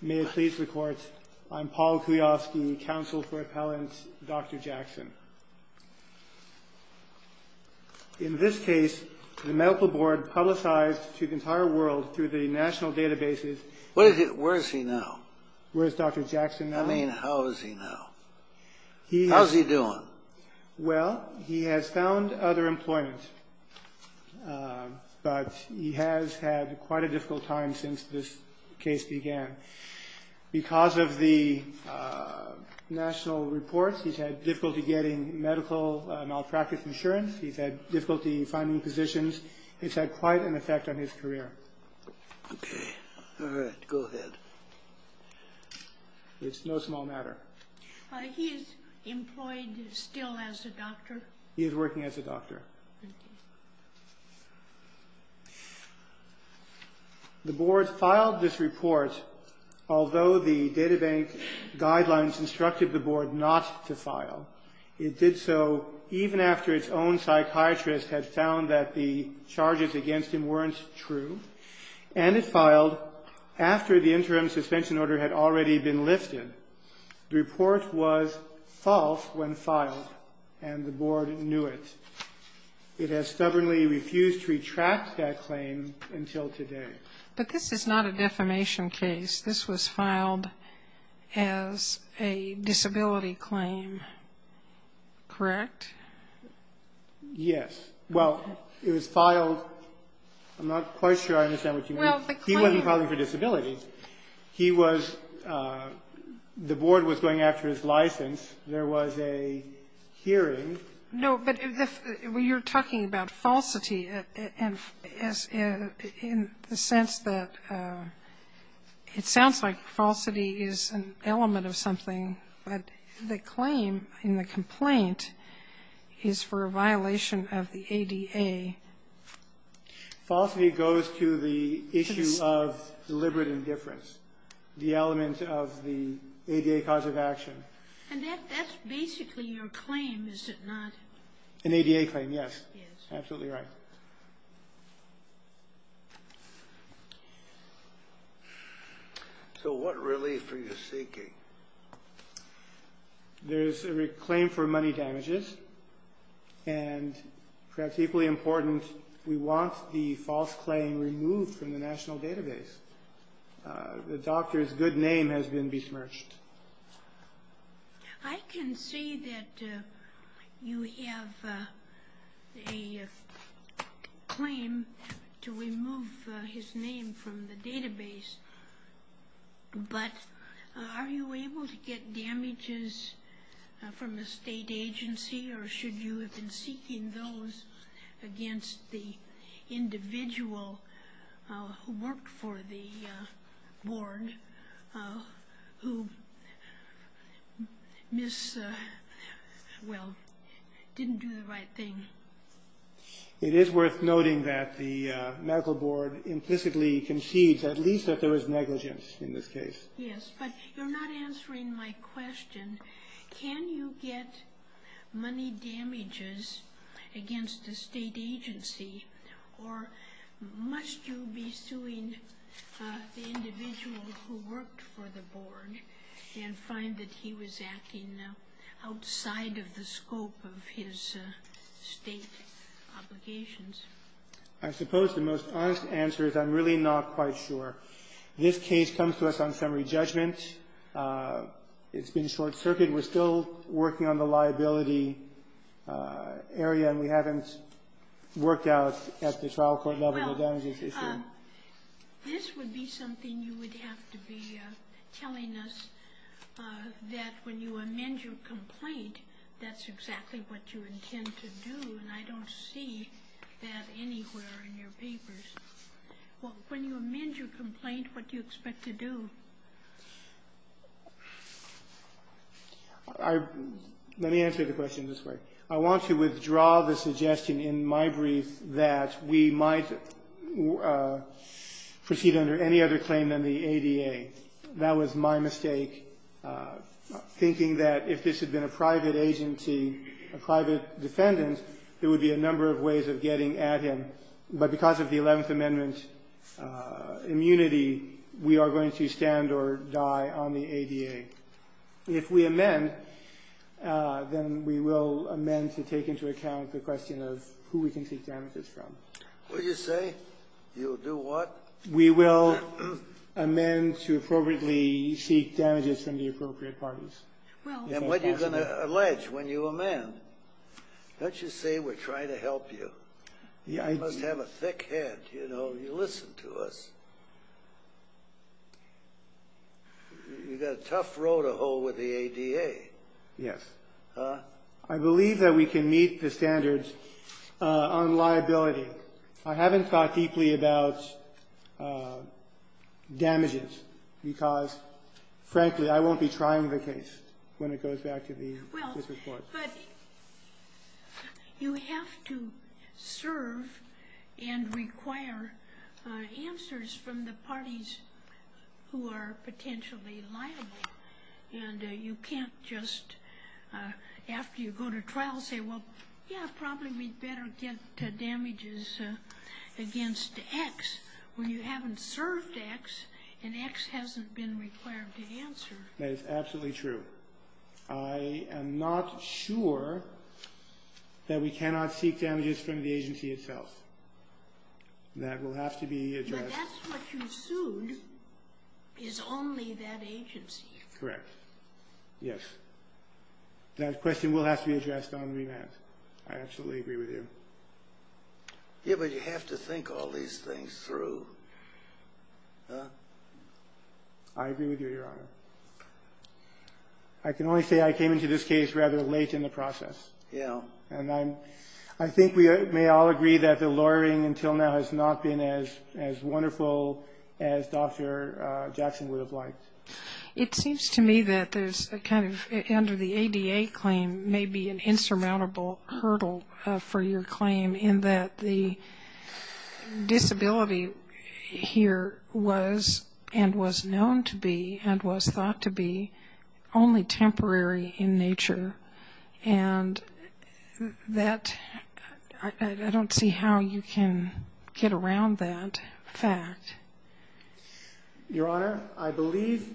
May it please the Court, I'm Paul Kulioski, counsel for Appellant Dr. Jackson. In this case, the Medical Board publicized to the entire world through the national databases Where is he now? Where is Dr. Jackson now? I mean, how is he now? How's he doing? Well, he has found other employment. But he has had quite a difficult time since this case began. Because of the national reports, he's had difficulty getting medical malpractice insurance. He's had difficulty finding positions. It's had quite an effect on his career. Okay. All right. Go ahead. It's no small matter. He's employed still as a doctor? He is working as a doctor. The Board filed this report although the databank guidelines instructed the Board not to file. It did so even after its own psychiatrist had found that the charges against him weren't true. And it filed after the interim suspension order had already been lifted. The report was false when filed. And the Board knew it. It has stubbornly refused to retract that claim until today. But this is not a defamation case. This was filed as a disability claim. Correct? Yes. Well, it was filed. I'm not quite sure I understand what you mean. He wasn't filing for disability. He was the Board was going after his license. There was a hearing. No. But you're talking about falsity in the sense that it sounds like falsity is an element of something. But the claim in the complaint is for a violation of the ADA. Falsity goes to the issue of deliberate indifference, the element of the ADA cause of action. And that's basically your claim, is it not? An ADA claim, yes. Absolutely right. So what relief are you seeking? There's a claim for money damages. And perhaps equally important, we want the false claim removed from the national database. The doctor's good name has been besmirched. I can see that you have a claim to remove his name from the database. But are you able to get damages from a state agency or should you have been seeking those against the individual who worked for the Board who didn't do the right thing? It is worth noting that the Medical Board implicitly concedes at least that there is negligence in this case. Yes, but you're not answering my question. Can you get money damages against a state agency, or must you be suing the individual who worked for the Board and find that he was acting outside of the scope of his state obligations? I suppose the most honest answer is I'm really not quite sure. This case comes to us on summary judgment. It's been short-circuited. We're still working on the liability area, and we haven't worked out at the trial court level the damages issue. Well, this would be something you would have to be telling us, that when you amend your complaint, that's exactly what you intend to do, and I don't see that anywhere in your papers. Well, when you amend your complaint, what do you expect to do? Let me answer the question this way. I want to withdraw the suggestion in my brief that we might proceed under any other claim than the ADA. That was my mistake, thinking that if this had been a private agency, a private defendant, there would be a number of ways of getting at him. But because of the Eleventh Amendment immunity, we are going to stand or die on the ADA. If we amend, then we will amend to take into account the question of who we can seek damages from. What did you say? You'll do what? We will amend to appropriately seek damages from the appropriate parties. And what are you going to allege when you amend? Don't you say we're trying to help you? You must have a thick head, you know. You listen to us. You've got a tough road to hoe with the ADA. Yes. I believe that we can meet the standards on liability. I haven't thought deeply about damages because, frankly, I won't be trying the case when it goes back to the different parts. But you have to serve and require answers from the parties who are potentially liable. And you can't just, after you go to trial, say, well, yeah, probably we'd better get damages against X when you haven't served X and X hasn't been required to answer. That is absolutely true. I am not sure that we cannot seek damages from the agency itself. That will have to be addressed. But that's what you sued is only that agency. Correct. Yes. That question will have to be addressed on remand. I absolutely agree with you. Yeah, but you have to think all these things through. I agree with you, Your Honor. I can only say I came into this case rather late in the process. Yeah. And I think we may all agree that the lawyering until now has not been as wonderful as Dr. Jackson would have liked. It seems to me that there's a kind of, under the ADA claim, maybe an insurmountable hurdle for your claim in that the disability here was and was known to be and was thought to be only temporary in nature. And that I don't see how you can get around that fact. Your Honor, I believe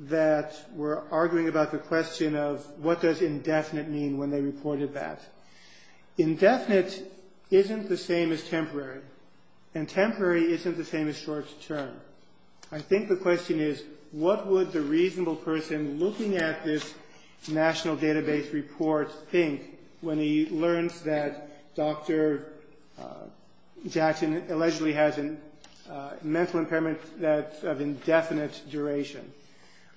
that we're arguing about the question of what does indefinite mean when they reported that. Indefinite isn't the same as temporary. And temporary isn't the same as short term. I think the question is what would the reasonable person looking at this national database report think when he learns that Dr. Jackson allegedly has a mental impairment that's of indefinite duration.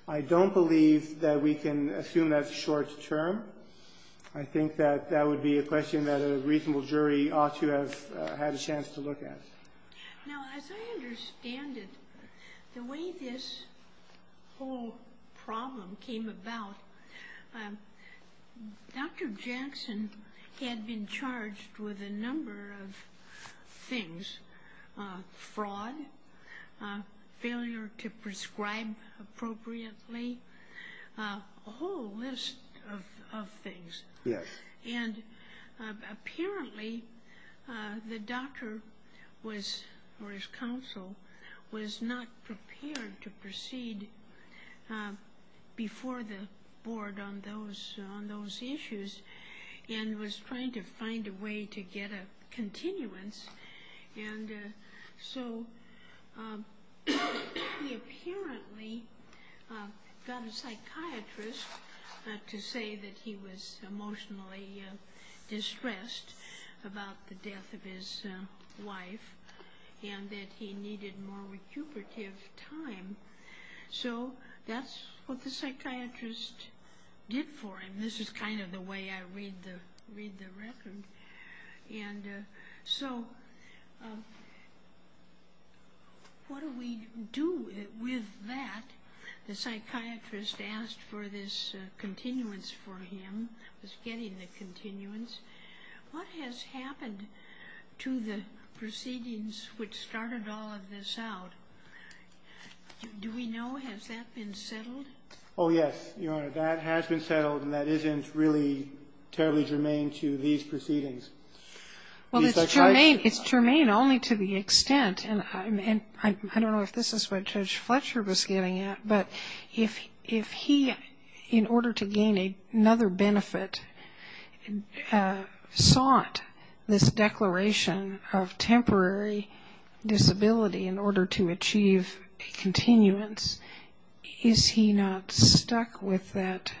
I don't believe that we can assume that's short term. I think that that would be a question that a reasonable jury ought to have had a chance to look at. Now, as I understand it, the way this whole problem came about, Dr. Jackson had been charged with a number of things. Fraud, failure to prescribe appropriately, a whole list of things. Yes. And apparently the doctor was, or his counsel, was not prepared to proceed before the board on those issues and was trying to find a way to get a continuance. And so he apparently got a psychiatrist to say that he was emotionally distressed about the death of his wife and that he needed more recuperative time. So that's what the psychiatrist did for him. This is kind of the way I read the record. And so what do we do with that? The psychiatrist asked for this continuance for him, was getting the continuance. What has happened to the proceedings which started all of this out? Do we know? Has that been settled? Oh, yes, Your Honor. That has been settled and that isn't really terribly germane to these proceedings. Well, it's germane only to the extent, and I don't know if this is what Judge Fletcher was getting at, but if he, in order to gain another benefit, sought this declaration of temporary disability in order to achieve a continuance, is he not stuck with that?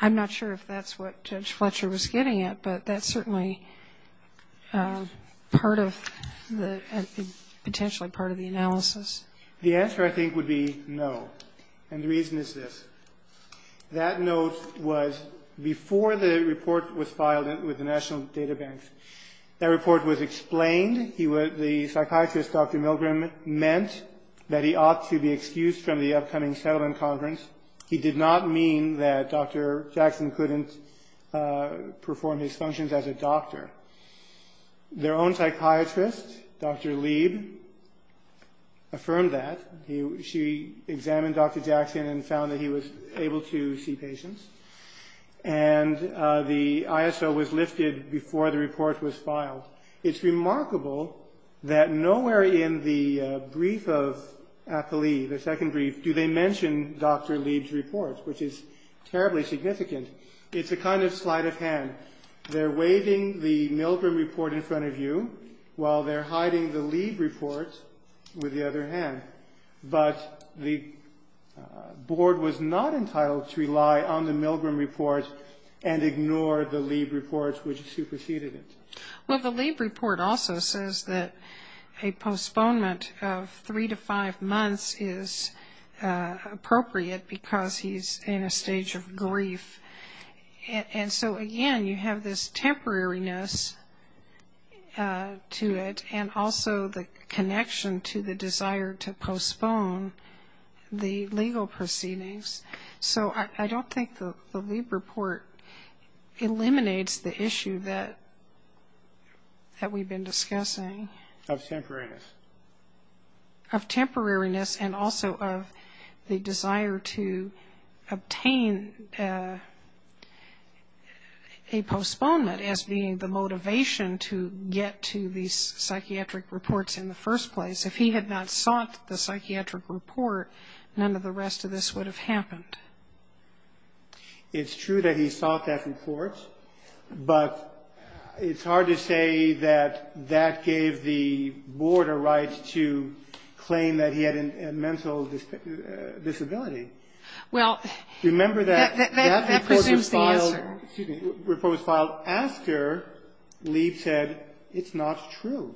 I'm not sure if that's what Judge Fletcher was getting at, but that's certainly part of the, potentially part of the analysis. The answer, I think, would be no, and the reason is this. That note was before the report was filed with the National Data Bank. That report was explained. The psychiatrist, Dr. Milgram, meant that he ought to be excused from the upcoming settlement conference. He did not mean that Dr. Jackson couldn't perform his functions as a doctor. Their own psychiatrist, Dr. Lieb, affirmed that. She examined Dr. Jackson and found that he was able to see patients, and the ISO was lifted before the report was filed. It's remarkable that nowhere in the brief of Apolli, the second brief, do they mention Dr. Lieb's report, which is terribly significant. It's a kind of sleight of hand. They're waving the Milgram report in front of you, while they're hiding the Lieb report with the other hand. But the board was not entitled to rely on the Milgram report and ignore the Lieb report, which superseded it. Well, the Lieb report also says that a postponement of three to five months is appropriate because he's in a stage of grief. And so, again, you have this temporariness to it and also the connection to the desire to postpone the legal proceedings. So I don't think the Lieb report eliminates the issue that we've been discussing. Of temporariness. Of temporariness and also of the desire to obtain a postponement as being the motivation to get to these psychiatric reports in the first place. If he had not sought the psychiatric report, none of the rest of this would have happened. It's true that he sought that report, but it's hard to say that that gave the board a right to claim that he had a mental disability. Well, that presumes the answer. Remember that report was filed after Lieb said it's not true.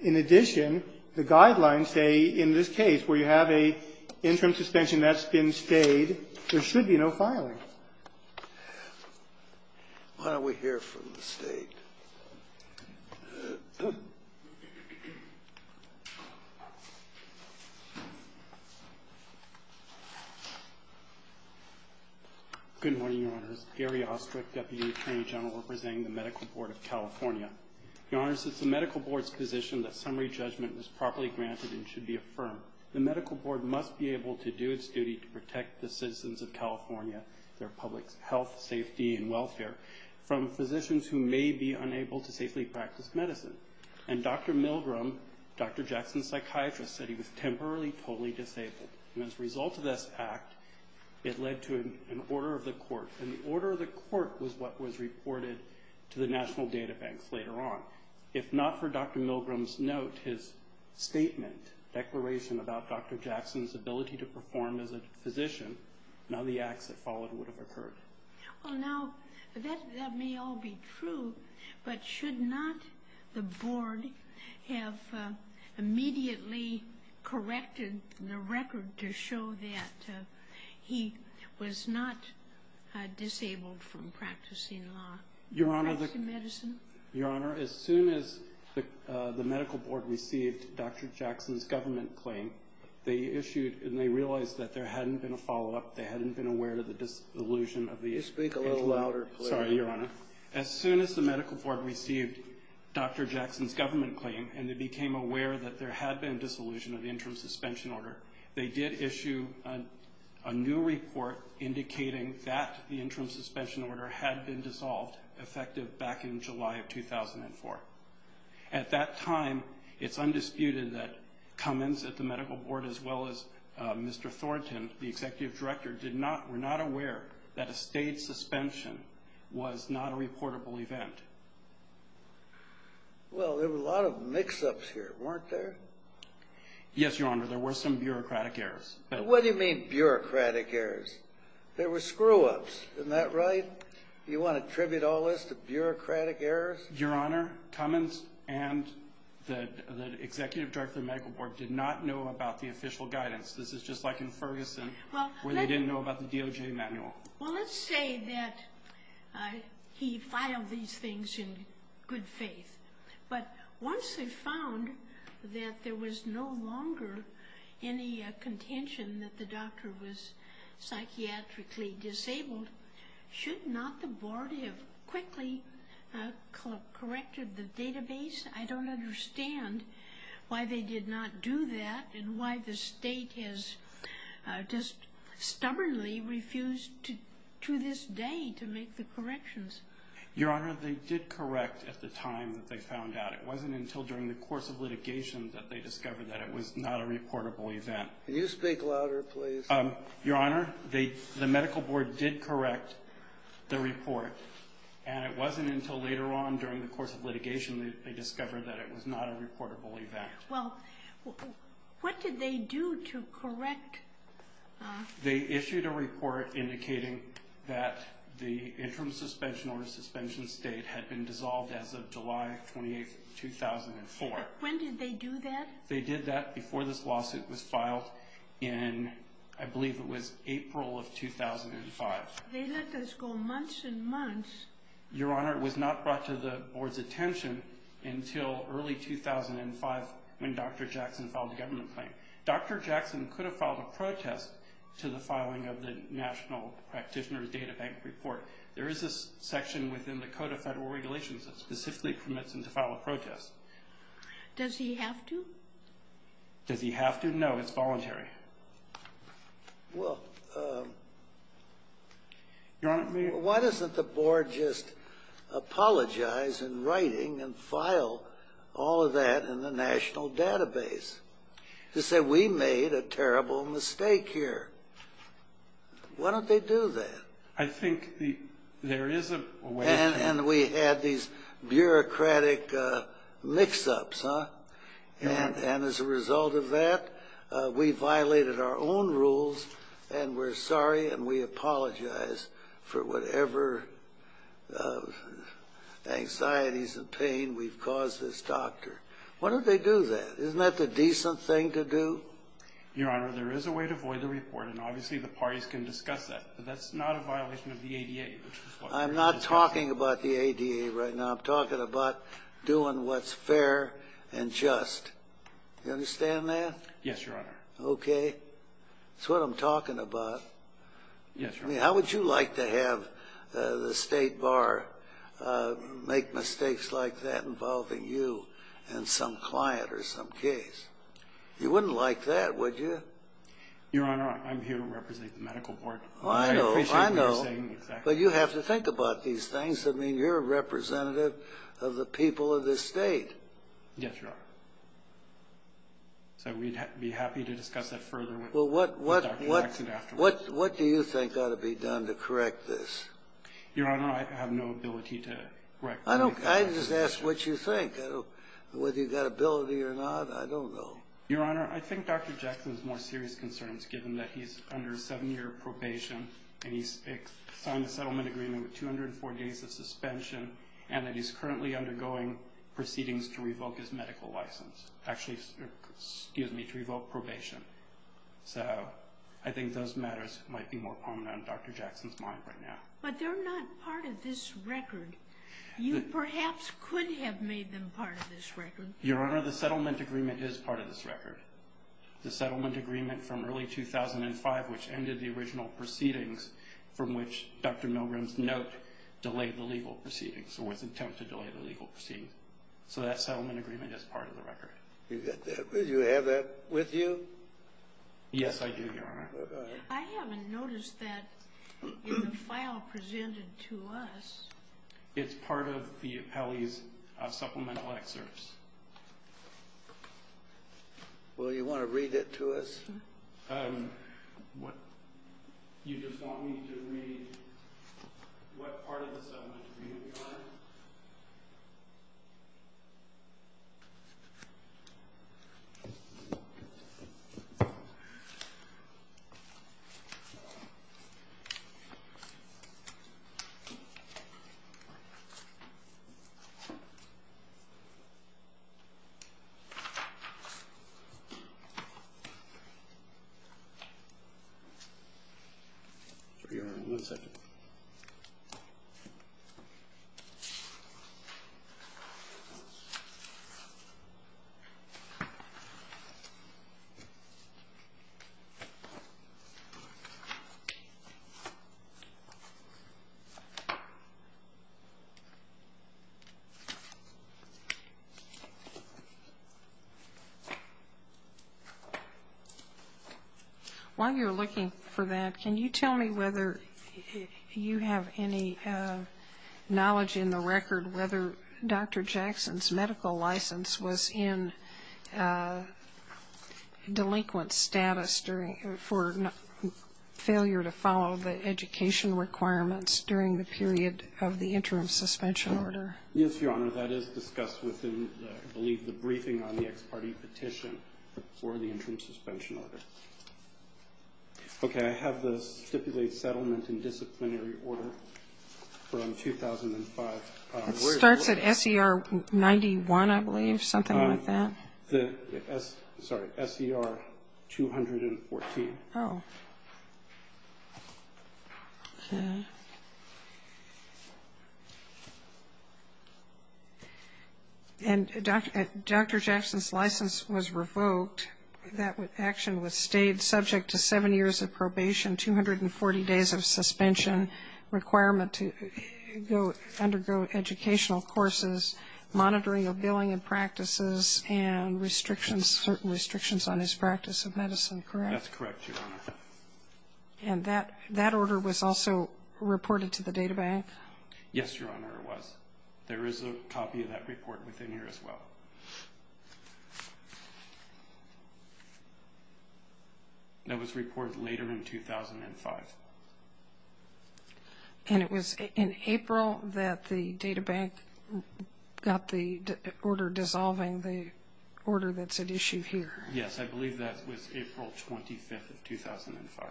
In addition, the guidelines say in this case, where you have an interim suspension that's been stayed, there should be no filing. Why don't we hear from the State? Good morning, Your Honors. Gary Ostrick, Deputy Attorney General, representing the Medical Board of California. Your Honors, it's the Medical Board's position that summary judgment is properly granted and should be affirmed. However, the Medical Board must be able to do its duty to protect the citizens of California, their public health, safety, and welfare, from physicians who may be unable to safely practice medicine. And Dr. Milgram, Dr. Jackson's psychiatrist, said he was temporarily totally disabled. And as a result of this act, it led to an order of the court. And the order of the court was what was reported to the national databanks later on. If not for Dr. Milgram's note, his statement, declaration about Dr. Jackson's ability to perform as a physician, none of the acts that followed would have occurred. Well, now, that may all be true, but should not the Board have immediately corrected the record to show that he was not disabled from practicing law, practicing medicine? Your Honor, as soon as the Medical Board received Dr. Jackson's government claim, they issued and they realized that there hadn't been a follow-up, they hadn't been aware of the disillusion of the interim suspension order. Speak a little louder, please. Sorry, Your Honor. As soon as the Medical Board received Dr. Jackson's government claim and they became aware that there had been disillusion of the interim suspension order, they did issue a new report indicating that the interim suspension order had been dissolved, effective back in July of 2004. At that time, it's undisputed that Cummins at the Medical Board as well as Mr. Thornton, the Executive Director, were not aware that a state suspension was not a reportable event. Well, there were a lot of mix-ups here, weren't there? Yes, Your Honor, there were some bureaucratic errors. What do you mean bureaucratic errors? There were screw-ups, isn't that right? You want to attribute all this to bureaucratic errors? Your Honor, Cummins and the Executive Director of the Medical Board did not know about the official guidance. This is just like in Ferguson where they didn't know about the DOJ manual. Well, let's say that he filed these things in good faith, but once they found that there was no longer any contention that the doctor was psychiatrically disabled, should not the Board have quickly corrected the database? I don't understand why they did not do that and why the state has just stubbornly refused to this day to make the corrections. Your Honor, they did correct at the time that they found out. It wasn't until during the course of litigation that they discovered that it was not a reportable event. Can you speak louder, please? Your Honor, the Medical Board did correct the report, and it wasn't until later on during the course of litigation that they discovered that it was not a reportable event. Well, what did they do to correct? They issued a report indicating that the interim suspension or suspension state had been dissolved as of July 28, 2004. When did they do that? They did that before this lawsuit was filed in, I believe it was April of 2005. They let this go months and months. Your Honor, it was not brought to the Board's attention until early 2005 when Dr. Jackson filed a government claim. Dr. Jackson could have filed a protest to the filing of the National Practitioner's Data Bank Report. There is a section within the Code of Federal Regulations that specifically permits him to file a protest. Does he have to? Does he have to? No, it's voluntary. Well, Your Honor, why doesn't the Board just apologize in writing and file all of that in the national database? They say, we made a terrible mistake here. Why don't they do that? I think there is a way. And we had these bureaucratic mix-ups, huh? And as a result of that, we violated our own rules, and we're sorry and we apologize for whatever anxieties and pain we've caused this doctor. Why don't they do that? Isn't that the decent thing to do? Your Honor, there is a way to void the report, and obviously the parties can discuss that, but that's not a violation of the ADA. I'm not talking about the ADA right now. I'm talking about doing what's fair and just. Do you understand that? Yes, Your Honor. Okay. That's what I'm talking about. Yes, Your Honor. I mean, how would you like to have the State Bar make mistakes like that involving you and some client or some case? You wouldn't like that, would you? Your Honor, I'm here to represent the Medical Board. I know. I know. But you have to think about these things. I mean, you're a representative of the people of this state. Yes, Your Honor. So we'd be happy to discuss that further with Dr. Jackson afterwards. What do you think ought to be done to correct this? Your Honor, I have no ability to correct this. I just asked what you think. Whether you've got ability or not, I don't know. Your Honor, I think Dr. Jackson's more serious concerns, given that he's under seven-year probation and he signed the settlement agreement with 204 days of suspension and that he's currently undergoing proceedings to revoke his medical license. Actually, excuse me, to revoke probation. So I think those matters might be more prominent in Dr. Jackson's mind right now. But they're not part of this record. You perhaps could have made them part of this record. Your Honor, the settlement agreement is part of this record. The settlement agreement from early 2005, which ended the original proceedings from which Dr. Milgram's note delayed the legal proceedings or was attempted to delay the legal proceedings. So that settlement agreement is part of the record. You have that with you? Yes, I do, Your Honor. I haven't noticed that in the file presented to us. It's part of the appellee's supplemental excerpts. Well, do you want to read it to us? You just want me to read what part of the settlement agreement you're on? Your Honor, one second. While you're looking for that, can you tell me whether you have any knowledge in the record whether Dr. Jackson's medical license was in delinquent status for failure to follow the education requirements during the period of the interim suspension order? Yes, Your Honor, that is discussed within, I believe, the briefing on the ex parte petition for the interim suspension order. Okay, I have the stipulated settlement and disciplinary order from 2005. It starts at SER 91, I believe, something like that. Sorry, SER 214. Oh. Okay. And Dr. Jackson's license was revoked. That action was stayed subject to seven years of probation, 240 days of suspension, requirement to undergo educational courses, monitoring of billing and practices, and certain restrictions on his practice of medicine, correct? That's correct, Your Honor. And that order was also reported to the databank? Yes, Your Honor, it was. There is a copy of that report within here as well. That was reported later in 2005. And it was in April that the databank got the order dissolving the order that's at issue here? Yes, I believe that was April 25th of 2005.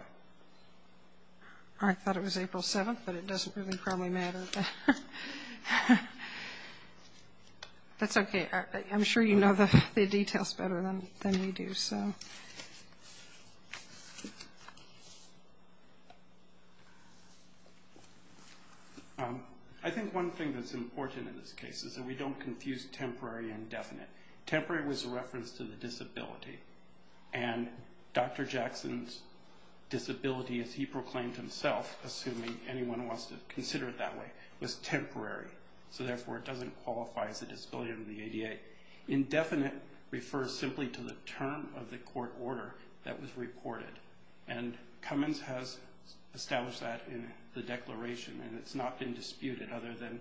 I thought it was April 7th, but it doesn't really probably matter. That's okay. I'm sure you know the details better than we do. I think one thing that's important in this case is that we don't confuse temporary and definite. Temporary was a reference to the disability, and Dr. Jackson's disability, as he proclaimed himself, assuming anyone wants to consider it that way, was temporary, so therefore it doesn't qualify as a disability under the ADA. Indefinite refers simply to the term of the court order that was reported, and Cummins has established that in the declaration, and it's not been disputed other than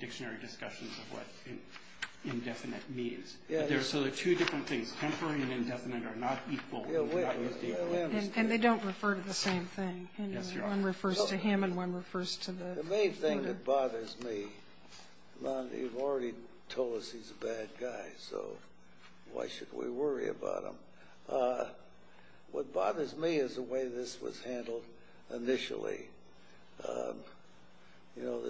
dictionary discussions of what indefinite means. So there are two different things. Temporary and indefinite are not equal. And they don't refer to the same thing. One refers to him and one refers to the court order. The main thing that bothers me, you've already told us he's a bad guy, so why should we worry about him? What bothers me is the way this was handled initially. You know,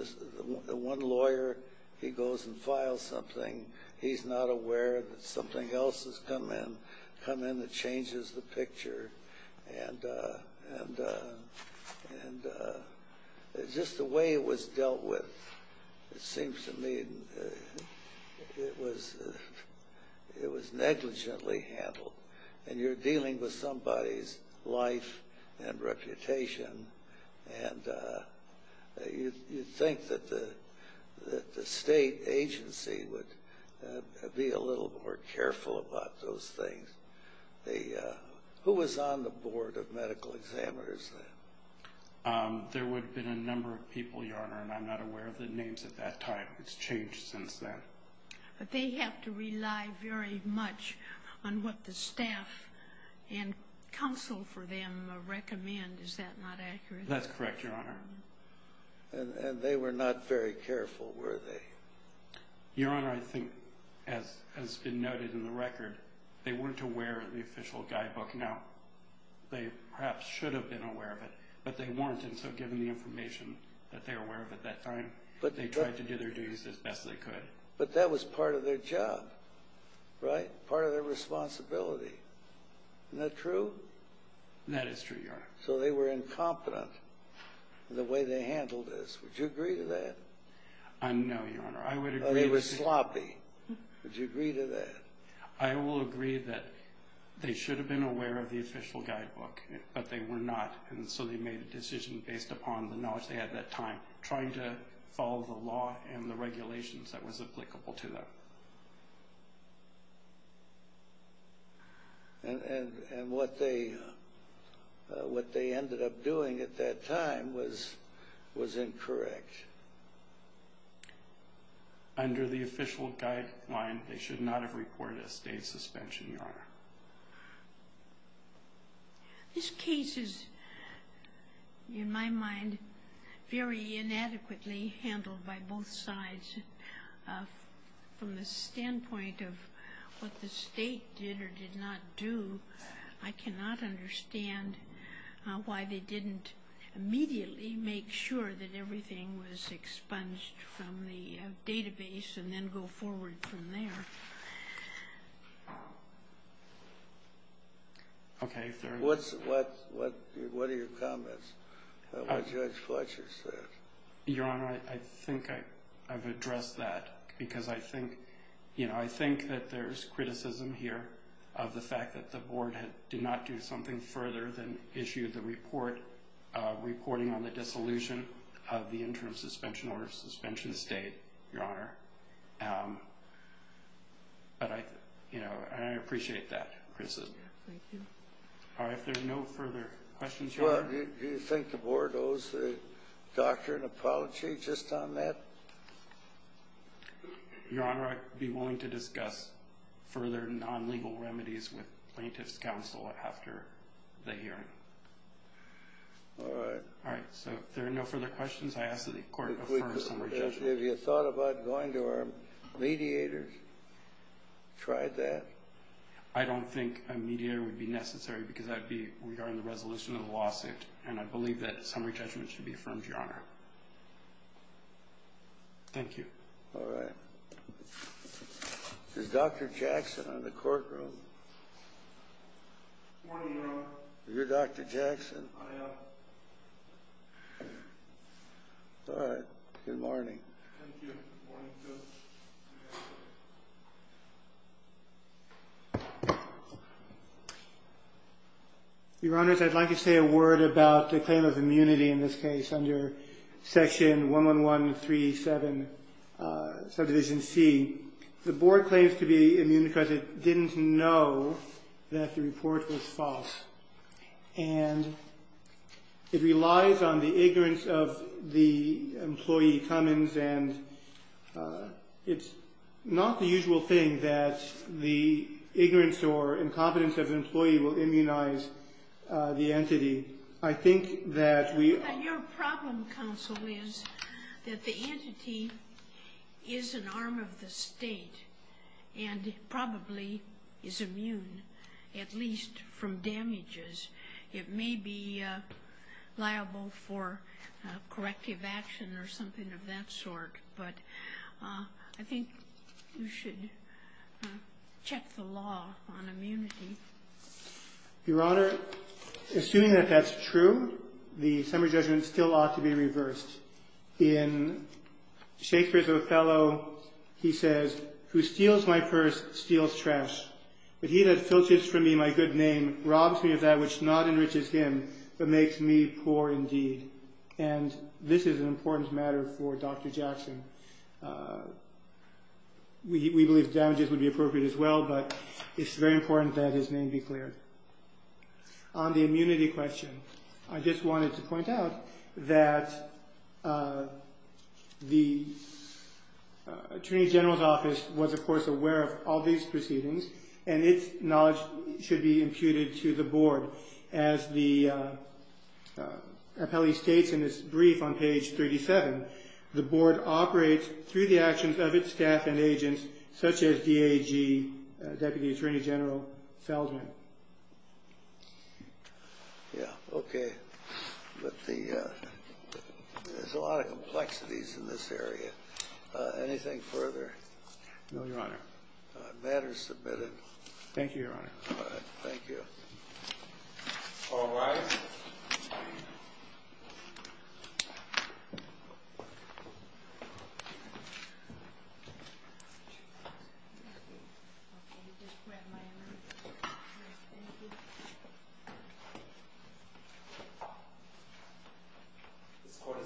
one lawyer, he goes and files something. He's not aware that something else has come in that changes the picture. And just the way it was dealt with, it seems to me it was negligently handled. And you're dealing with somebody's life and reputation, and you'd think that the state agency would be a little more careful about those things. Who was on the board of medical examiners then? There would have been a number of people, Your Honor, and I'm not aware of the names at that time. It's changed since then. But they have to rely very much on what the staff and counsel for them recommend. Is that not accurate? That's correct, Your Honor. And they were not very careful, were they? Your Honor, I think, as has been noted in the record, they weren't aware of the official guidebook. Now, they perhaps should have been aware of it, but they weren't, and so given the information that they were aware of at that time, they tried to do their duties as best they could. But that was part of their job, right? Part of their responsibility. Isn't that true? That is true, Your Honor. So they were incompetent in the way they handled this. Would you agree to that? No, Your Honor. They were sloppy. Would you agree to that? I will agree that they should have been aware of the official guidebook, but they were not, and so they made a decision based upon the knowledge they had at that time, trying to follow the law and the regulations that was applicable to them. And what they ended up doing at that time was incorrect. Under the official guideline, they should not have reported a state suspension, Your Honor. This case is, in my mind, very inadequately handled by both sides. From the standpoint of what the state did or did not do, I cannot understand why they didn't immediately make sure that everything was expunged from the database and then go forward from there. What are your comments on what Judge Fletcher said? Your Honor, I think I've addressed that, because I think that there's criticism here of the fact that the board did not do something further than issue the report reporting on the dissolution of the interim suspension or suspension state, Your Honor. But I appreciate that criticism. Thank you. All right, if there are no further questions, Your Honor. Well, do you think the board owes the doctor an apology just on that? Your Honor, I'd be willing to discuss further non-legal remedies with plaintiff's counsel after the hearing. All right. All right, so if there are no further questions, I ask that the court refer some rejection. Have you thought about going to our mediators? Tried that? I don't think a mediator would be necessary, because that would be regarding the resolution of the lawsuit, and I believe that summary judgment should be affirmed, Your Honor. Thank you. All right. Is Dr. Jackson in the courtroom? Good morning, Your Honor. Are you Dr. Jackson? I am. All right. Good morning. Thank you. Good morning, too. Your Honors, I'd like to say a word about the claim of immunity in this case under Section 11137, Subdivision C. The board claims to be immune because it didn't know that the report was false. And it relies on the ignorance of the employee, Cummins, and it's not the usual thing that the ignorance or incompetence of an employee will immunize the entity. I think that we are Your problem, counsel, is that the entity is an arm of the state and probably is immune, at least from damages. It may be liable for corrective action or something of that sort, but I think you should check the law on immunity. Your Honor, assuming that that's true, the summary judgment still ought to be reversed. In Shakespeare's Othello, he says, Who steals my purse steals trash. But he that filches from me my good name robs me of that which not enriches him, but makes me poor indeed. And this is an important matter for Dr. Jackson. We believe damages would be appropriate as well, but it's very important that his name be cleared. On the immunity question, I just wanted to point out that the Attorney General's office was, of course, aware of all these proceedings, and its knowledge should be imputed to the board. As the appellee states in his brief on page 37, the board operates through the actions of its staff and agents, such as DAG Deputy Attorney General Feldman. Yeah, okay. But there's a lot of complexities in this area. Anything further? No, Your Honor. The matter is submitted. Thank you, Your Honor. All right. Thank you. All rise. This court is adjourned.